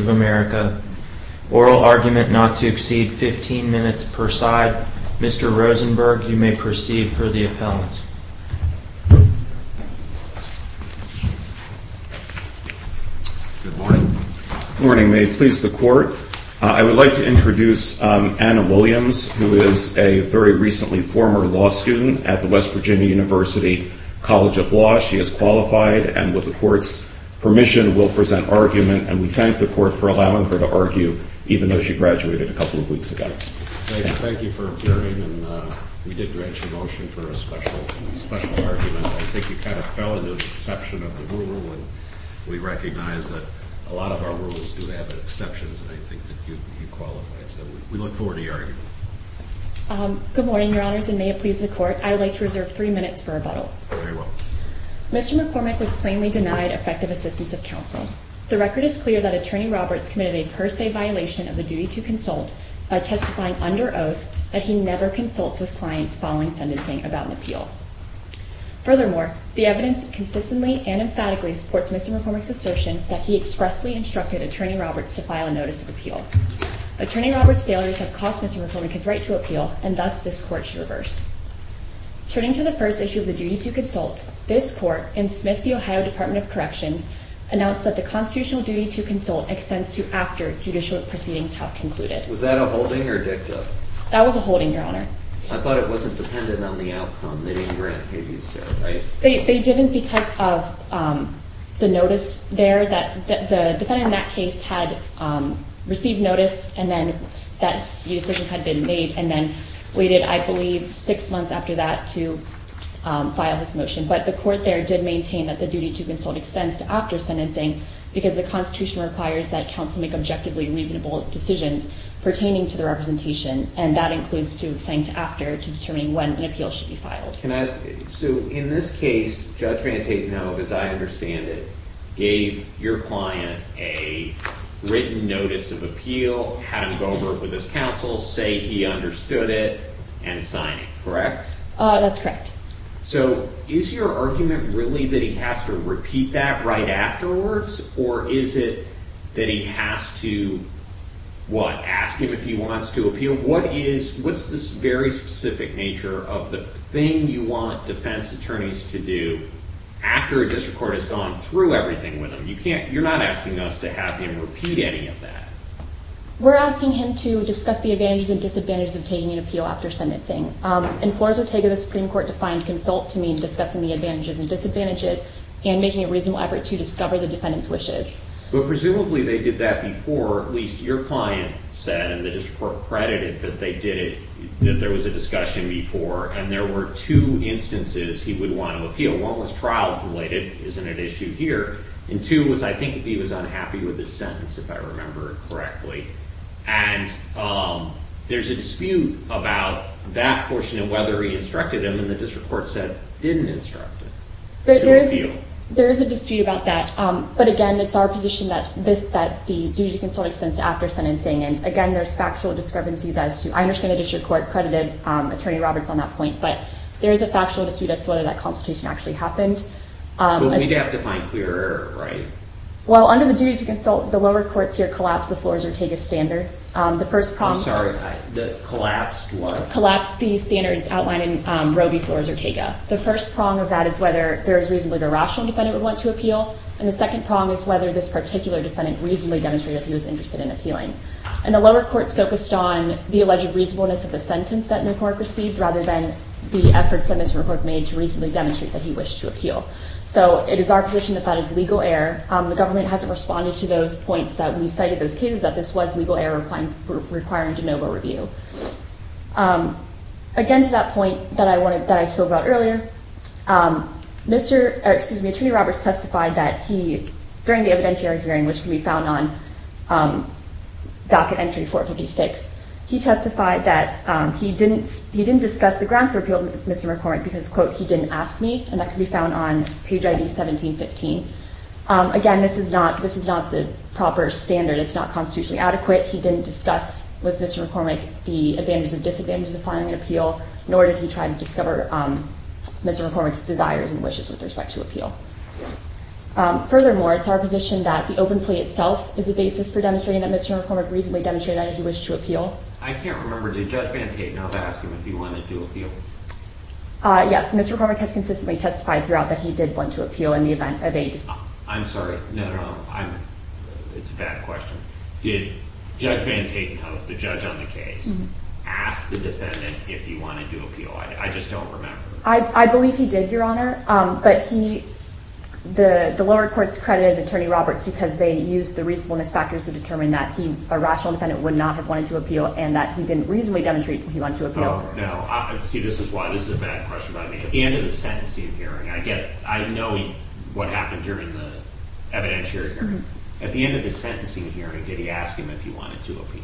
of America. Oral argument not to exceed 15 minutes per side. Mr. Rosenberg, you may proceed for the appellant. Good morning. Good morning. May it please the court, I would like to introduce Anna Williams, who is a very recently former law student at the West Virginia University College of Law. She has qualified and with the court's permission will present argument and we thank the court for allowing her to argue even though she graduated a couple of weeks ago. Thank you for appearing and we did grant you a motion for a special argument but I think you kind of fell into the deception of the rule and we recognize that a lot of our rules do have exceptions and I think that you qualified so we look forward to your argument. Good morning, your honors, and may it please the court, I would like to reserve three minutes for rebuttal. Very well. Mr. McCormick was plainly denied effective assistance of counsel. The record is clear that Attorney Roberts committed a per se violation of the duty to consult by testifying under oath that he never consults with clients following sentencing about an appeal. Furthermore, the evidence consistently and emphatically supports Mr. McCormick's right to appeal and thus this court should reverse. Turning to the first issue of the duty to consult, this court in Smith v. Ohio Department of Corrections announced that the constitutional duty to consult extends to after judicial proceedings have concluded. Was that a holding or a dicta? That was a holding, your honor. I thought it wasn't dependent on the outcome, they didn't grant abuse there, right? They didn't because of the notice there that the defendant in that case had received notice and then that the decision had been made and then waited, I believe, six months after that to file his motion. But the court there did maintain that the duty to consult extends to after sentencing because the constitution requires that counsel make objectively reasonable decisions pertaining to the representation and that includes extending to after to determine when an appeal should be filed. So in this case, Judge Van Tatenhove, as I understand it, gave your client a written notice of appeal, had him go over it with his counsel, say he understood it, and sign it, correct? That's correct. So is your argument really that he has to repeat that right afterwards or is it that he has to, what, ask him if he wants to appeal? What is, what's this very thing you want defense attorneys to do after a district court has gone through everything with him? You can't, you're not asking us to have him repeat any of that. We're asking him to discuss the advantages and disadvantages of taking an appeal after sentencing. In Flores Ortega, the Supreme Court defined consult to mean discussing the advantages and disadvantages and making a reasonable effort to discover the defendant's wishes. But presumably they did that before, at least your client said, and the district court credited that they did it, that there was a discussion before, and there were two instances he would want to appeal. One was trial-related, isn't an issue here, and two was I think he was unhappy with his sentence, if I remember correctly. And there's a dispute about that portion and whether he instructed him and the district court said didn't instruct him to appeal. There is a dispute about that. But again, it's our position that this, that the duty to consult, the lower courts here collapsed the Flores Ortega standards. The first prong of that is whether there is reasonably a rational defendant would want to appeal, and the second prong is whether this particular defendant reasonably demonstrated that he was interested in appealing. And the lower courts focused on the alleged reasonableness of the sentence that McClurk received rather than the efforts that Mr. McClurk made to reasonably demonstrate that he wished to appeal. So it is our position that that is legal error. The government hasn't responded to those points that we cited, those cases that this was legal error requiring de novo review. Again to that point that I wanted, that I spoke about earlier, Mr., excuse me, Attorney Docket Entry 456. He testified that he didn't, he didn't discuss the grounds for appeal with Mr. McCormick because quote, he didn't ask me, and that can be found on page ID 1715. Again this is not, this is not the proper standard. It's not constitutionally adequate. He didn't discuss with Mr. McCormick the advantages and disadvantages of filing an appeal, nor did he try to discover Mr. McCormick's desires and wishes with respect to appeal. Furthermore, it's our position that the open plea itself is the basis for demonstrating that Mr. McCormick reasonably demonstrated that he wished to appeal. I can't remember, did Judge Van Tatenhove ask him if he wanted to appeal? Yes, Mr. McCormick has consistently testified throughout that he did want to appeal in the event of a dispute. I'm sorry, no, no, no, I'm, it's a bad question. Did Judge Van Tatenhove, the judge on the case, ask the defendant if he wanted to appeal? I just don't remember. I believe he did, Your Honor, but he, the lower courts credited Attorney Roberts because they used the reasonableness factors to determine that he, a rational defendant, would not have wanted to appeal and that he didn't reasonably demonstrate he wanted to appeal. Oh, no, I see this is why this is a bad question. I mean, at the end of the sentencing hearing, I get it, I know what happened during the evidentiary hearing. At the end of the sentencing hearing, did he ask him if he wanted to appeal?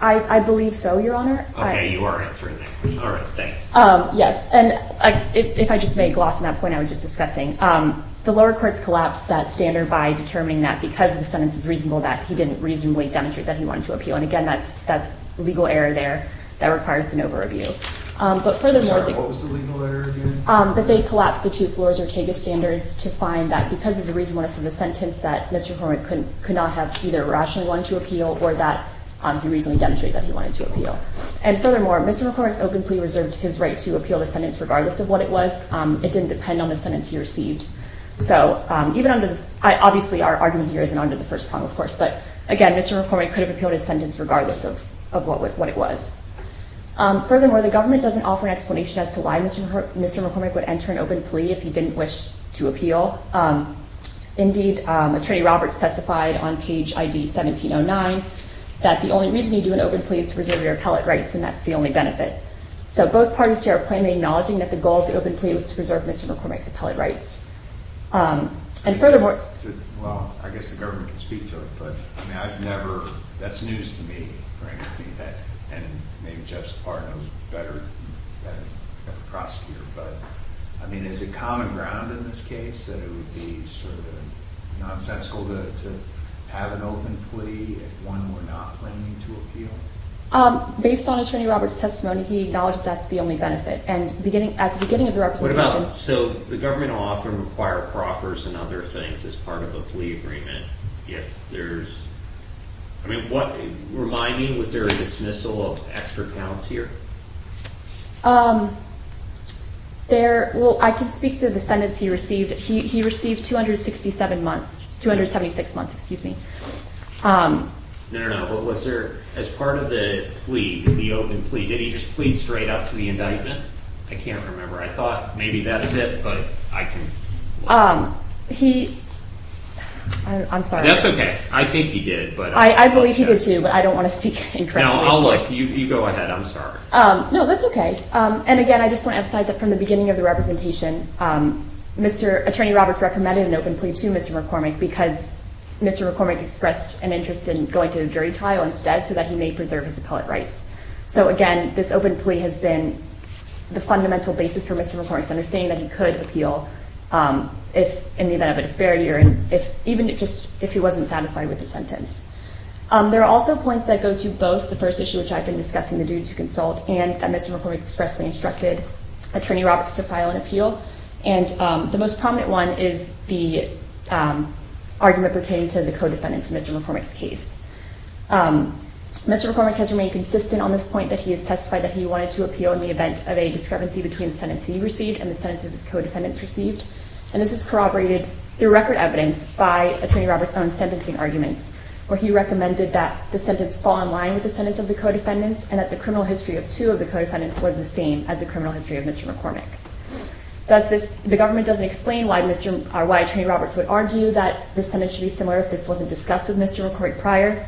I believe so, Your Honor. Okay, you are answering that. All right, thanks. Yes, and if I just may gloss on that point I was just discussing. The lower courts collapsed that standard by determining that because the sentence was reasonable that he didn't reasonably demonstrate that he wanted to appeal. And again, that's legal error there that requires an over-review. But furthermore, they collapsed the two floors Ortega standards to find that because of the reasonableness of the sentence that Mr. McCormick could not have either rationally wanted to appeal or that he reasonably demonstrated that he wanted to appeal. And furthermore, Mr. McCormick's open plea reserved his right to appeal the sentence regardless of what it was. It didn't depend on the sentence he received. So even under the, obviously our argument here isn't under the first prong of course, but again, Mr. McCormick could have appealed his sentence regardless of what it was. Furthermore, the government doesn't offer an explanation as to why Mr. McCormick would enter an open plea if he didn't wish to appeal. Indeed, Attorney Roberts testified on page ID 1709 that the only reason you do an open plea is to preserve your appellate rights, and that's the only benefit. So both parties here are plainly acknowledging that the goal of the open plea was to preserve Mr. McCormick's appellate rights. And furthermore... Well, I guess the government can speak to it, but I've never, that's news to me, frankly, that, and maybe Jeff's part knows better than the prosecutor, but I mean, is it common ground in this case that it would be sort of nonsensical to have an open plea if one were not planning to appeal? Based on Attorney Roberts' testimony, he acknowledged that's the only benefit. And beginning, at the beginning of the representation... What about, so the government will often require proffers and other things as part of a plea agreement if there's, I mean, what, remind me, was there a dismissal of extra counts here? There, well, I can speak to the sentence he received. He received 267 months, 276 months, excuse me. No, no, no, but was there, as part of the plea, the open plea, did he just plead straight up to the indictment? I can't remember. I thought maybe that's it, but I can... He, I'm sorry. That's okay. I think he did, but... I believe he did too, but I don't want to speak incorrectly, of course. No, I'll look. You go ahead. I'm sorry. No, that's okay. And again, I just want to emphasize that from the beginning of the representation, Mr. Attorney Roberts recommended an open plea to Mr. McCormick because Mr. McCormick expressed an interest in going to a jury trial instead so that he may preserve his appellate rights. So again, this open plea has been the fundamental basis for Mr. McCormick's understanding that he could appeal if, in the event of a disparity or if, even if just, if he wasn't satisfied with the sentence. There are also points that go to both the first issue, which I've been discussing, the second appeal, and the most prominent one is the argument pertaining to the co-defendants in Mr. McCormick's case. Mr. McCormick has remained consistent on this point that he has testified that he wanted to appeal in the event of a discrepancy between the sentence he received and the sentences his co-defendants received. And this is corroborated through record evidence by Attorney Roberts' own sentencing arguments, where he recommended that the sentence fall in line with the sentence of the co-defendants and that the criminal history of two of the co-defendants was the same as the criminal The government doesn't explain why Attorney Roberts would argue that the sentence should be similar if this wasn't discussed with Mr. McCormick prior.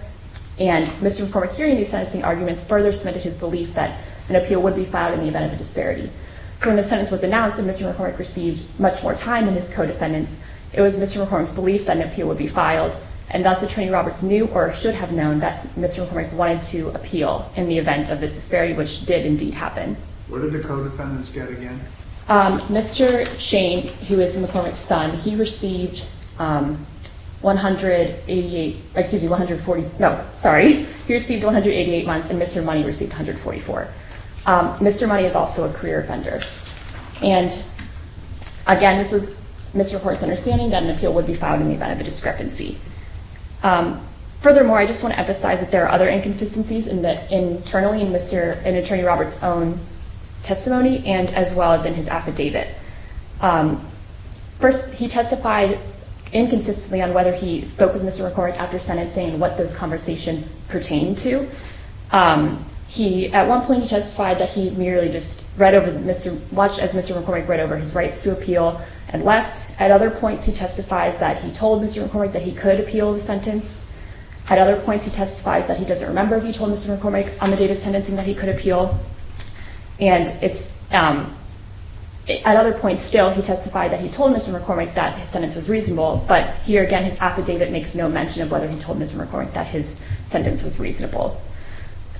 And Mr. McCormick, hearing these sentencing arguments, further cemented his belief that an appeal would be filed in the event of a disparity. So when the sentence was announced and Mr. McCormick received much more time than his co-defendants, it was Mr. McCormick's belief that an appeal would be filed. And thus, Attorney Roberts knew or should have known that Mr. McCormick wanted to appeal in the event of this disparity, which did indeed happen. What did the co-defendants get again? Mr. Shane, who is McCormick's son, he received 188, excuse me, 140, no, sorry. He received 188 months and Mr. Money received 144. Mr. Money is also a career offender. And again, this was Mr. McCormick's understanding that an appeal would be filed in the event of a discrepancy. Furthermore, I just want to emphasize that there are other inconsistencies in that internally in Mr. and Attorney Roberts' own testimony and as well as in his affidavit. First, he testified inconsistently on whether he spoke with Mr. McCormick after sentencing and what those conversations pertained to. At one point, he testified that he merely just read over Mr. – watched as Mr. McCormick read over his rights to appeal and left. At other points, he testifies that he told Mr. McCormick that he could appeal the sentence. At other points, he testifies that he doesn't remember if he told Mr. McCormick on the date of sentencing that he could appeal. And it's – at other points still, he testified that he told Mr. McCormick that his sentence was reasonable. But here again, his affidavit makes no mention of whether he told Mr. McCormick that his sentence was reasonable.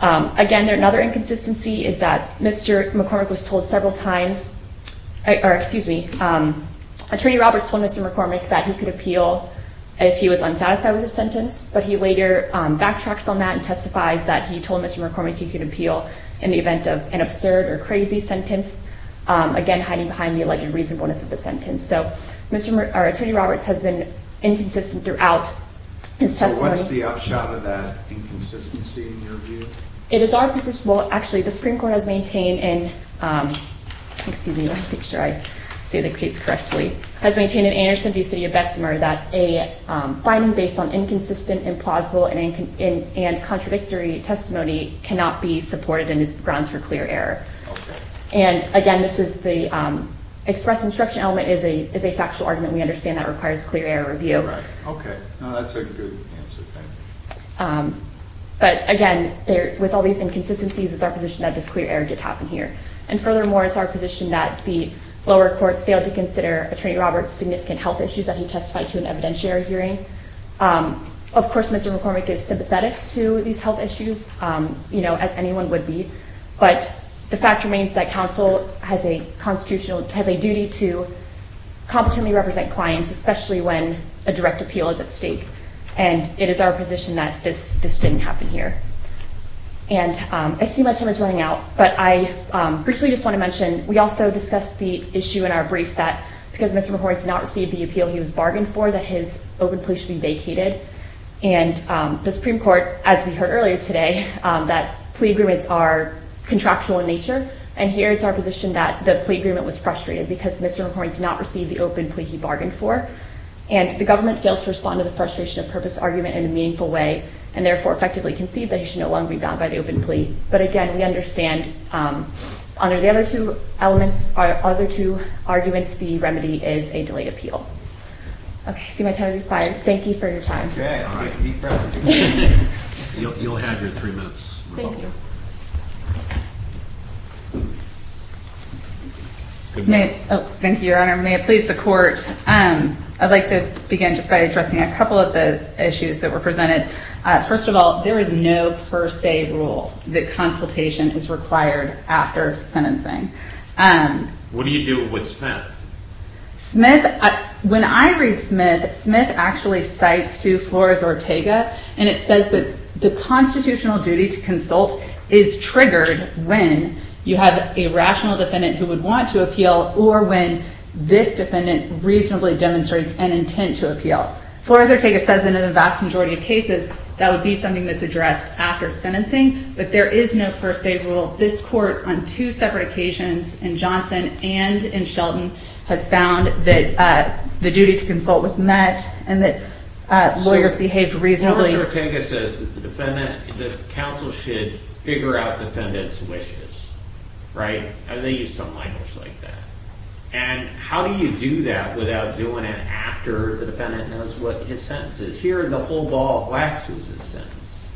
Again, another inconsistency is that Mr. McCormick was told several times – or excuse me, Attorney Roberts told Mr. McCormick that he could appeal if he was unsatisfied with his sentence. But he later backtracks on that and testifies that he told Mr. McCormick he could appeal in the event of an absurd or crazy sentence, again, hiding behind the alleged reasonableness of the sentence. So, Mr. – or Attorney Roberts has been inconsistent throughout his testimony. So, what's the upshot of that inconsistency in your view? It is our position – well, actually, the Supreme Court has maintained in – excuse me, if I read these correctly – has maintained in Anderson v. City of Bessemer that a finding based on inconsistent, implausible, and contradictory testimony cannot be supported and is grounds for clear error. Okay. And again, this is the – express instruction element is a factual argument. We understand that requires clear error review. Right. Okay. Now, that's a good answer. Thank you. But again, there – with all these inconsistencies, it's our position that this clear error did happen here. And furthermore, it's our position that the lower courts failed to consider Attorney Roberts' significant health issues that he testified to in the evidentiary hearing. Of course, Mr. McCormick is sympathetic to these health issues, you know, as anyone would be. But the fact remains that counsel has a constitutional – has a duty to competently represent clients, especially when a direct appeal is at stake. And it is our position that this didn't happen here. And I see my time is running out, but I briefly just want to mention we also discussed the issue in our brief that because Mr. McCormick did not receive the appeal he was bargained for, that his open plea should be vacated. And the Supreme Court, as we heard earlier today, that plea agreements are contractual in nature. And here, it's our position that the plea agreement was frustrated because Mr. McCormick did not receive the open plea he bargained for. And the government fails to respond to the frustration of purpose argument in a meaningful way and therefore effectively concedes that he should no longer be bound by the open plea. But again, we understand, under the other two elements – other two arguments, the remedy is a delayed appeal. Okay. I see my time has expired. Thank you for your time. Okay. All right. Be present. You'll have your three minutes. Thank you. Good night. Oh, thank you, Your Honor. May it please the Court, I'd like to begin just by addressing a couple of the issues that were presented. First of all, there is no per se rule that consultation is required after sentencing. What do you do with Smith? Smith – when I read Smith, Smith actually cites to Flores Ortega, and it says that the constitutional duty to consult is triggered when you have a rational defendant who would want to appeal or when this defendant reasonably demonstrates an intent to appeal. Flores Ortega says in a vast majority of cases that would be something that's addressed after sentencing, but there is no per se rule. This Court, on two separate occasions, in Johnson and in Shelton, has found that the duty to consult was met and that lawyers behaved reasonably. Flores Ortega says that the counsel should figure out the defendant's wishes, right? They use some language like that. And how do you do that without doing it after the defendant knows what his sentence is? Here, the whole ball of wax is his sentence.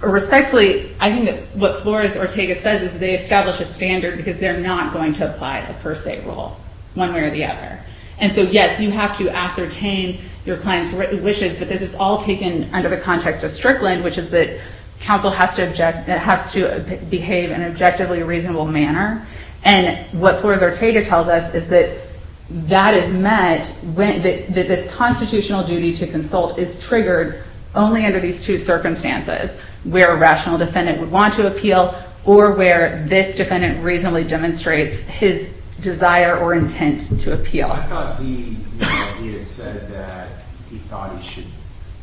Respectfully, I think that what Flores Ortega says is that they establish a standard because they're not going to apply the per se rule one way or the other. And so, yes, you have to ascertain your client's wishes, but this is all taken under the context of Strickland, which is that counsel has to behave in an objectively reasonable manner. And what Flores Ortega tells us is that this constitutional duty to consult is triggered only under these two circumstances, where a rational defendant would want to appeal or where this defendant reasonably demonstrates his desire or intent to appeal. I thought he had said that he thought he should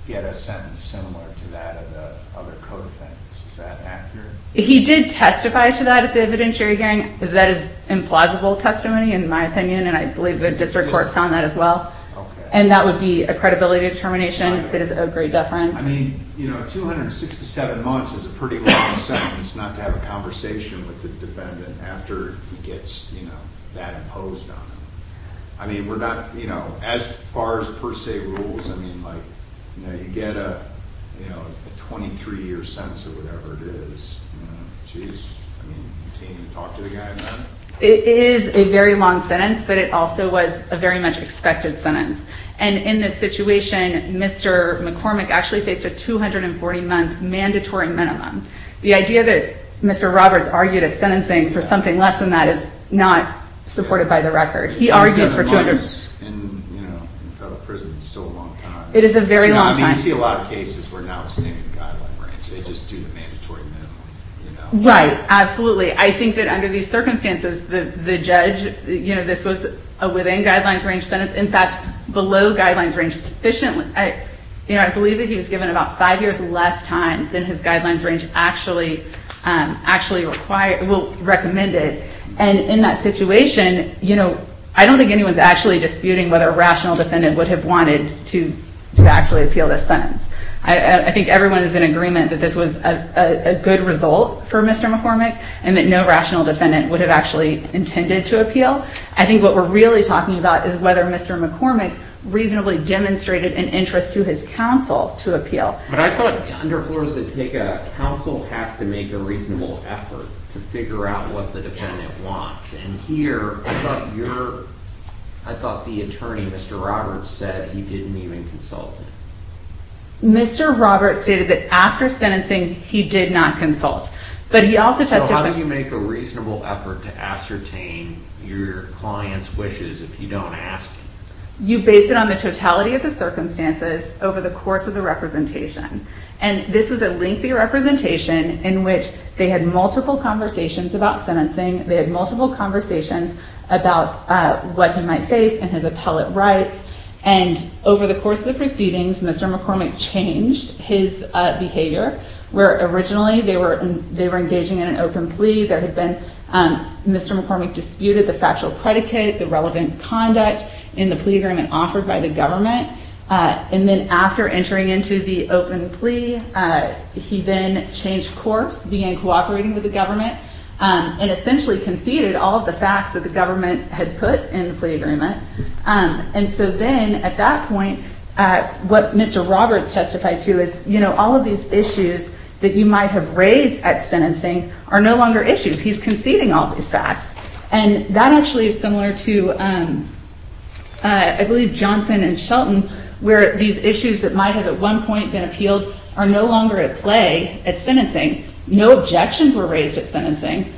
get a sentence similar to that of the other co-defendants. Is that accurate? He did testify to that at the evidentiary hearing. That is implausible testimony, in my opinion, and I believe the district court found that as well. And that would be a credibility determination that is of great deference. I mean, you know, 267 months is a pretty long sentence not to have a conversation with the defendant after he gets, you know, that imposed on him. I mean, we're not, you know, as far as per se rules, I mean, like, you know, you get a, you know, a 23-year sentence or whatever it is. I mean, do you talk to the guy about it? It is a very long sentence, but it also was a very much expected sentence. And in this situation, Mr. McCormick actually faced a 240-month mandatory minimum. The idea that Mr. Roberts argued at sentencing for something less than that is not supported by the record. He argues for 200- 27 months in, you know, in federal prison is still a long time. It is a very long time. I mean, you see a lot of cases where now it's in the guideline range. They just do the mandatory minimum, you know. Right, absolutely. I think that under these circumstances, the judge, you know, this was a within guidelines range sentence. In fact, below guidelines range sufficiently. You know, I believe that he was given about five years less time than his guidelines range actually required, well, recommended. And in that situation, you know, I don't think anyone is actually disputing whether a rational defendant would have wanted to actually appeal this sentence. I think everyone is in agreement that this was a good result for Mr. McCormick, and that no rational defendant would have actually intended to appeal. I think what we're really talking about is whether Mr. McCormick reasonably demonstrated an interest to his counsel to appeal. But I thought- Under Flores-Otega, counsel has to make a reasonable effort to figure out what the defendant wants. And here, I thought your- I thought the attorney, Mr. Roberts, said he didn't even consult it. Mr. Roberts stated that after sentencing, he did not consult. But he also testified- You based it on the totality of the circumstances over the course of the representation. And this was a lengthy representation in which they had multiple conversations about sentencing. They had multiple conversations about what he might face and his appellate rights. And over the course of the proceedings, Mr. McCormick changed his behavior, where originally they were engaging in an open plea. There had been- Mr. McCormick disputed the factual predicate, the relevant conduct in the plea agreement offered by the government. And then after entering into the open plea, he then changed course, began cooperating with the government, and essentially conceded all of the facts that the government had put in the plea agreement. And so then, at that point, what Mr. Roberts testified to is, you know, all of these issues that you might have raised at sentencing are no longer issues. He's conceding all these facts. And that actually is similar to, I believe, Johnson and Shelton, where these issues that might have at one point been appealed are no longer at play at sentencing. No objections were raised at sentencing.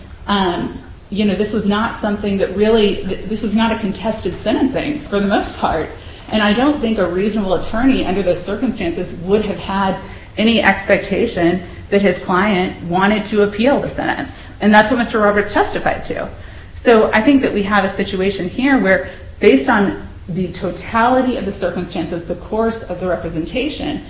You know, this was not something that really- this was not a contested sentencing, for the most part. And I don't think a reasonable attorney, under those circumstances, would have had any expectation that his client wanted to appeal the sentence. And that's what Mr. Roberts testified to. So I think that we have a situation here where, based on the totality of the circumstances, the course of the representation,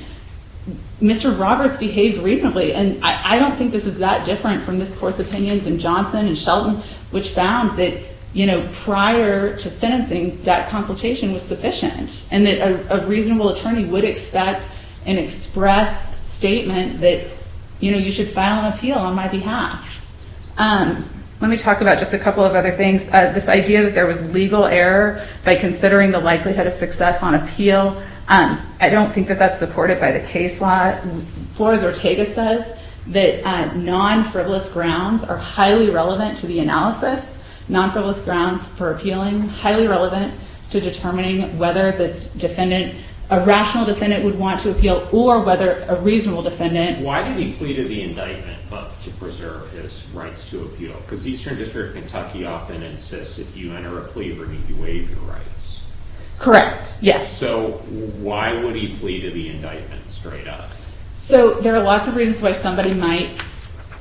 Mr. Roberts behaved reasonably. And I don't think this is that different from this Court's opinions in Johnson and Shelton, which found that, you know, prior to sentencing, that consultation was sufficient. And that a reasonable attorney would expect an express statement that, you know, you should file an appeal on my behalf. Let me talk about just a couple of other things. This idea that there was legal error by considering the likelihood of success on appeal, I don't think that that's supported by the case law. Flores-Ortega says that non-frivolous grounds are highly relevant to the analysis. Non-frivolous grounds for appealing, highly relevant to determining whether this defendant- a rational defendant would want to appeal, or whether a reasonable defendant- Why did he plea to the indictment but to preserve his rights to appeal? Because the Eastern District of Kentucky often insists if you enter a plea, Bernie, you waive your rights. Correct. Yes. So why would he plea to the indictment straight up? So there are lots of reasons why somebody might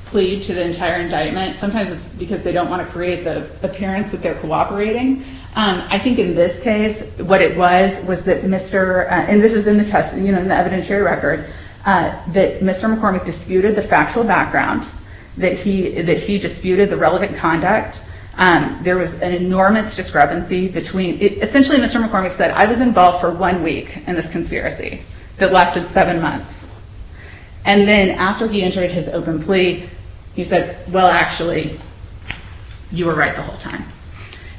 plead to the entire indictment. Sometimes it's because they don't want to create the appearance that they're cooperating. I think in this case, what it was, was that Mr.- and this is in the test, you know, in the evidentiary record- that Mr. McCormick disputed the factual background, that he disputed the relevant conduct. There was an enormous discrepancy between- one week in this conspiracy that lasted seven months. And then after he entered his open plea, he said, well, actually, you were right the whole time.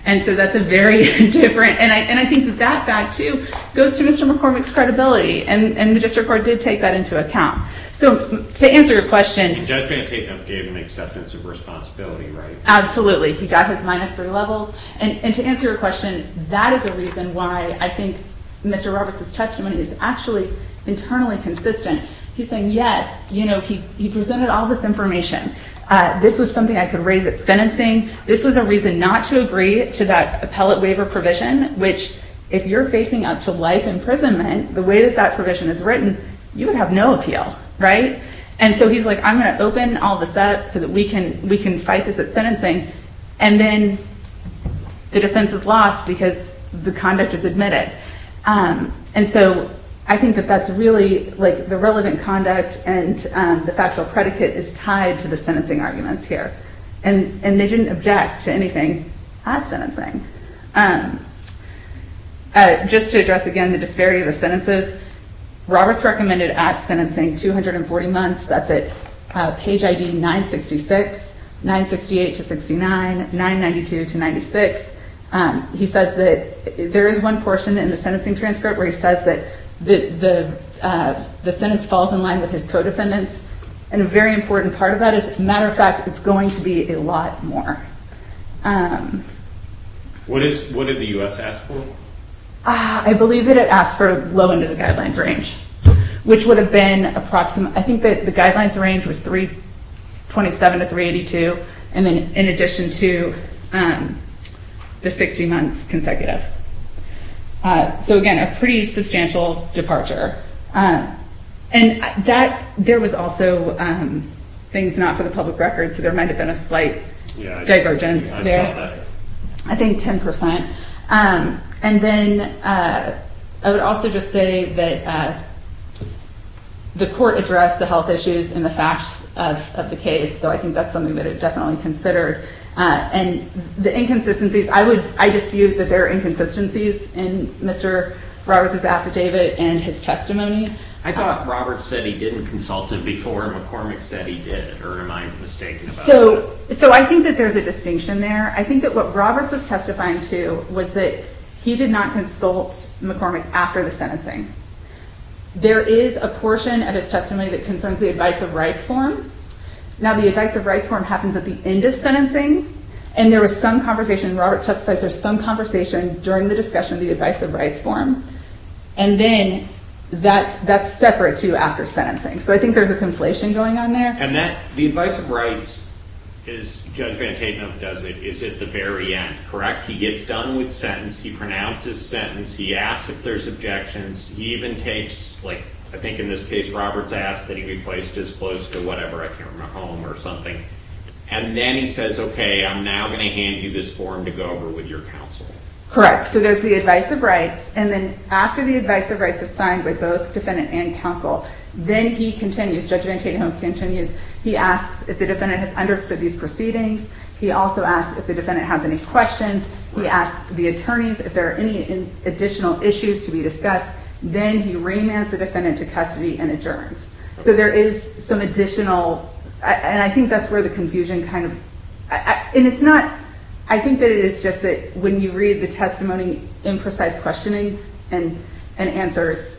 And so that's a very different- and I think that that, too, goes to Mr. McCormick's credibility. And the district court did take that into account. So to answer your question- The judge maintained he gave an acceptance of responsibility, right? Absolutely. He got his minus three levels. And to answer your question, that is a reason why I think Mr. Roberts' testimony is actually internally consistent. He's saying, yes, you know, he presented all this information. This was something I could raise at sentencing. This was a reason not to agree to that appellate waiver provision, which, if you're facing up to life imprisonment, the way that that provision is written, you would have no appeal, right? And so he's like, I'm going to open all this up so that we can fight this at sentencing. And then the defense is lost because the conduct is admitted. And so I think that that's really, like, the relevant conduct and the factual predicate is tied to the sentencing arguments here. And they didn't object to anything at sentencing. Just to address, again, the disparity of the sentences, Roberts recommended at sentencing 240 months. That's at page ID 966, 968 to 69, 992 to 96. He says that there is one portion in the sentencing transcript where he says that the sentence falls in line with his co-defendants. And a very important part of that is, as a matter of fact, it's going to be a lot more. What did the U.S. ask for? I believe that it asked for low end of the guidelines range, which would have been approximate. I think that the guidelines range was 327 to 382, and then in addition to the 60 months consecutive. So, again, a pretty substantial departure. And there was also things not for the public record, so there might have been a slight divergence there. I think 10%. And then I would also just say that the court addressed the health issues and the facts of the case, so I think that's something that it definitely considered. And the inconsistencies, I dispute that there are inconsistencies in Mr. Roberts' affidavit and his testimony. I thought Roberts said he didn't consult it before McCormick said he did, or am I mistaken? So I think that there's a distinction there. I think that what Roberts was testifying to was that he did not consult McCormick after the sentencing. There is a portion of his testimony that concerns the Advice of Rights form. Now, the Advice of Rights form happens at the end of sentencing, and there was some conversation. Roberts testified there was some conversation during the discussion of the Advice of Rights form, and then that's separate, too, after sentencing. So I think there's a conflation going on there. And the Advice of Rights, as Judge Van Tatenhove does it, is at the very end, correct? He gets done with sentence, he pronounces sentence, he asks if there's objections, he even takes, like, I think in this case Roberts asked that he be placed as close to whatever, a camera home or something, and then he says, okay, I'm now going to hand you this form to go over with your counsel. Correct, so there's the Advice of Rights, and then after the Advice of Rights is signed by both defendant and counsel, then he continues, Judge Van Tatenhove continues, he asks if the defendant has understood these proceedings, he also asks if the defendant has any questions, he asks the attorneys if there are any additional issues to be discussed, then he remands the defendant to custody and adjourns. So there is some additional, and I think that's where the confusion kind of, and it's not, I think that it is just that when you read the testimony, imprecise questioning and answers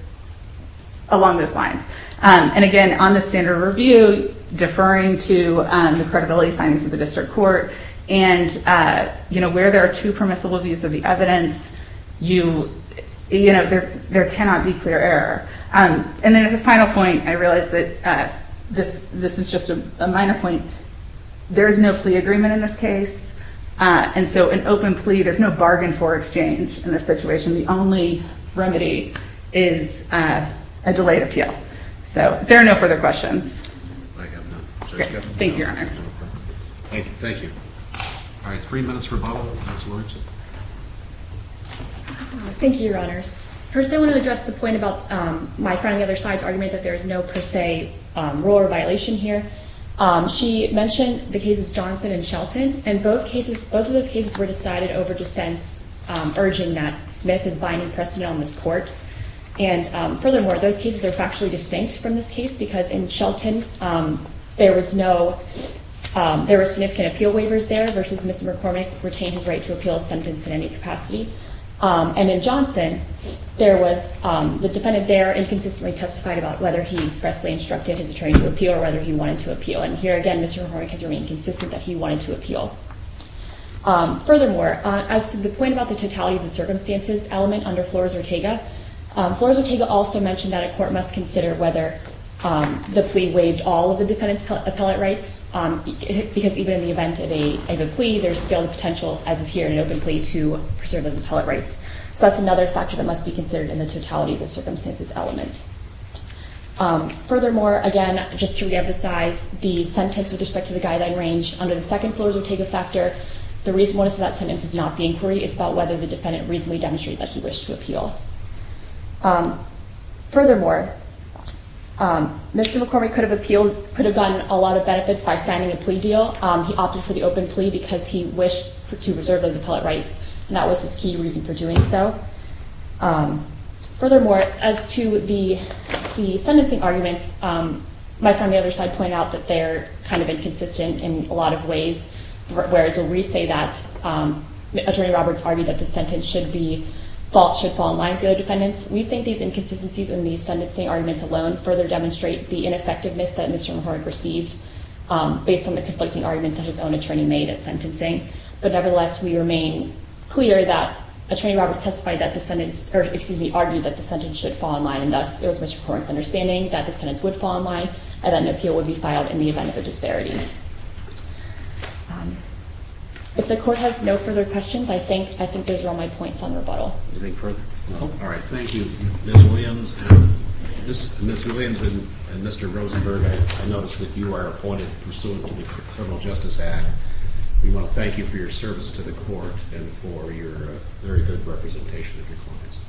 along those lines. And again, on the standard review, deferring to the credibility findings of the district court, and where there are two permissible views of the evidence, there cannot be clear error. And then as a final point, I realize that this is just a minor point, there is no plea agreement in this case, and so an open plea, there's no bargain for exchange in this situation, the only remedy is a delayed appeal. So there are no further questions. Thank you, Your Honors. Thank you. All right, three minutes for a vote. Thank you, Your Honors. First I want to address the point about my friend on the other side's argument that there is no per se rule or violation here. She mentioned the cases Johnson and Shelton, and both cases, both of those cases were decided over dissents, urging that Smith is binding precedent on this court. And furthermore, those cases are factually distinct from this case, because in Shelton there was no, there were significant appeal waivers there, versus Mr. McCormick retained his right to appeal a sentence in any capacity. And in Johnson, there was, the defendant there inconsistently testified about whether he expressly instructed his attorney to appeal or whether he wanted to appeal. And here again, Mr. McCormick has remained consistent that he wanted to appeal. Furthermore, as to the point about the totality of the circumstances element under Flores-Ortega, Flores-Ortega also mentioned that a court must consider whether the plea waived all of the defendant's appellate rights, because even in the event of a plea, there's still the potential, as is here in an open plea, to preserve those appellate rights. So that's another factor that must be considered in the totality of the circumstances element. Furthermore, again, just to reemphasize, the sentence with respect to the guideline range under the second Flores-Ortega factor, the reason one is for that sentence is not the inquiry. It's about whether the defendant reasonably demonstrated that he wished to appeal. Furthermore, Mr. McCormick could have appealed, could have gotten a lot of benefits by signing a plea deal. He opted for the open plea because he wished to preserve those appellate rights, and that was his key reason for doing so. Furthermore, as to the sentencing arguments, my friend on the other side pointed out that they're kind of inconsistent in a lot of ways, whereas we say that Attorney Roberts argued that the sentence should fall in line with the other defendants. We think these inconsistencies in these sentencing arguments alone further demonstrate the ineffectiveness that Mr. McCormick received based on the conflicting arguments that his own attorney made at sentencing. But nevertheless, we remain clear that Attorney Roberts testified that the sentence – or, excuse me, argued that the sentence should fall in line, and thus it was Mr. McCormick's understanding that the sentence would fall in line and that an appeal would be filed in the event of a disparity. If the Court has no further questions, I think those are all my points on rebuttal. Anything further? No? All right. Thank you, Ms. Williams. Ms. Williams and Mr. Rosenberg, I notice that you are appointed pursuant to the Federal Justice Act. We want to thank you for your service to the Court and for your very good representation of your clients.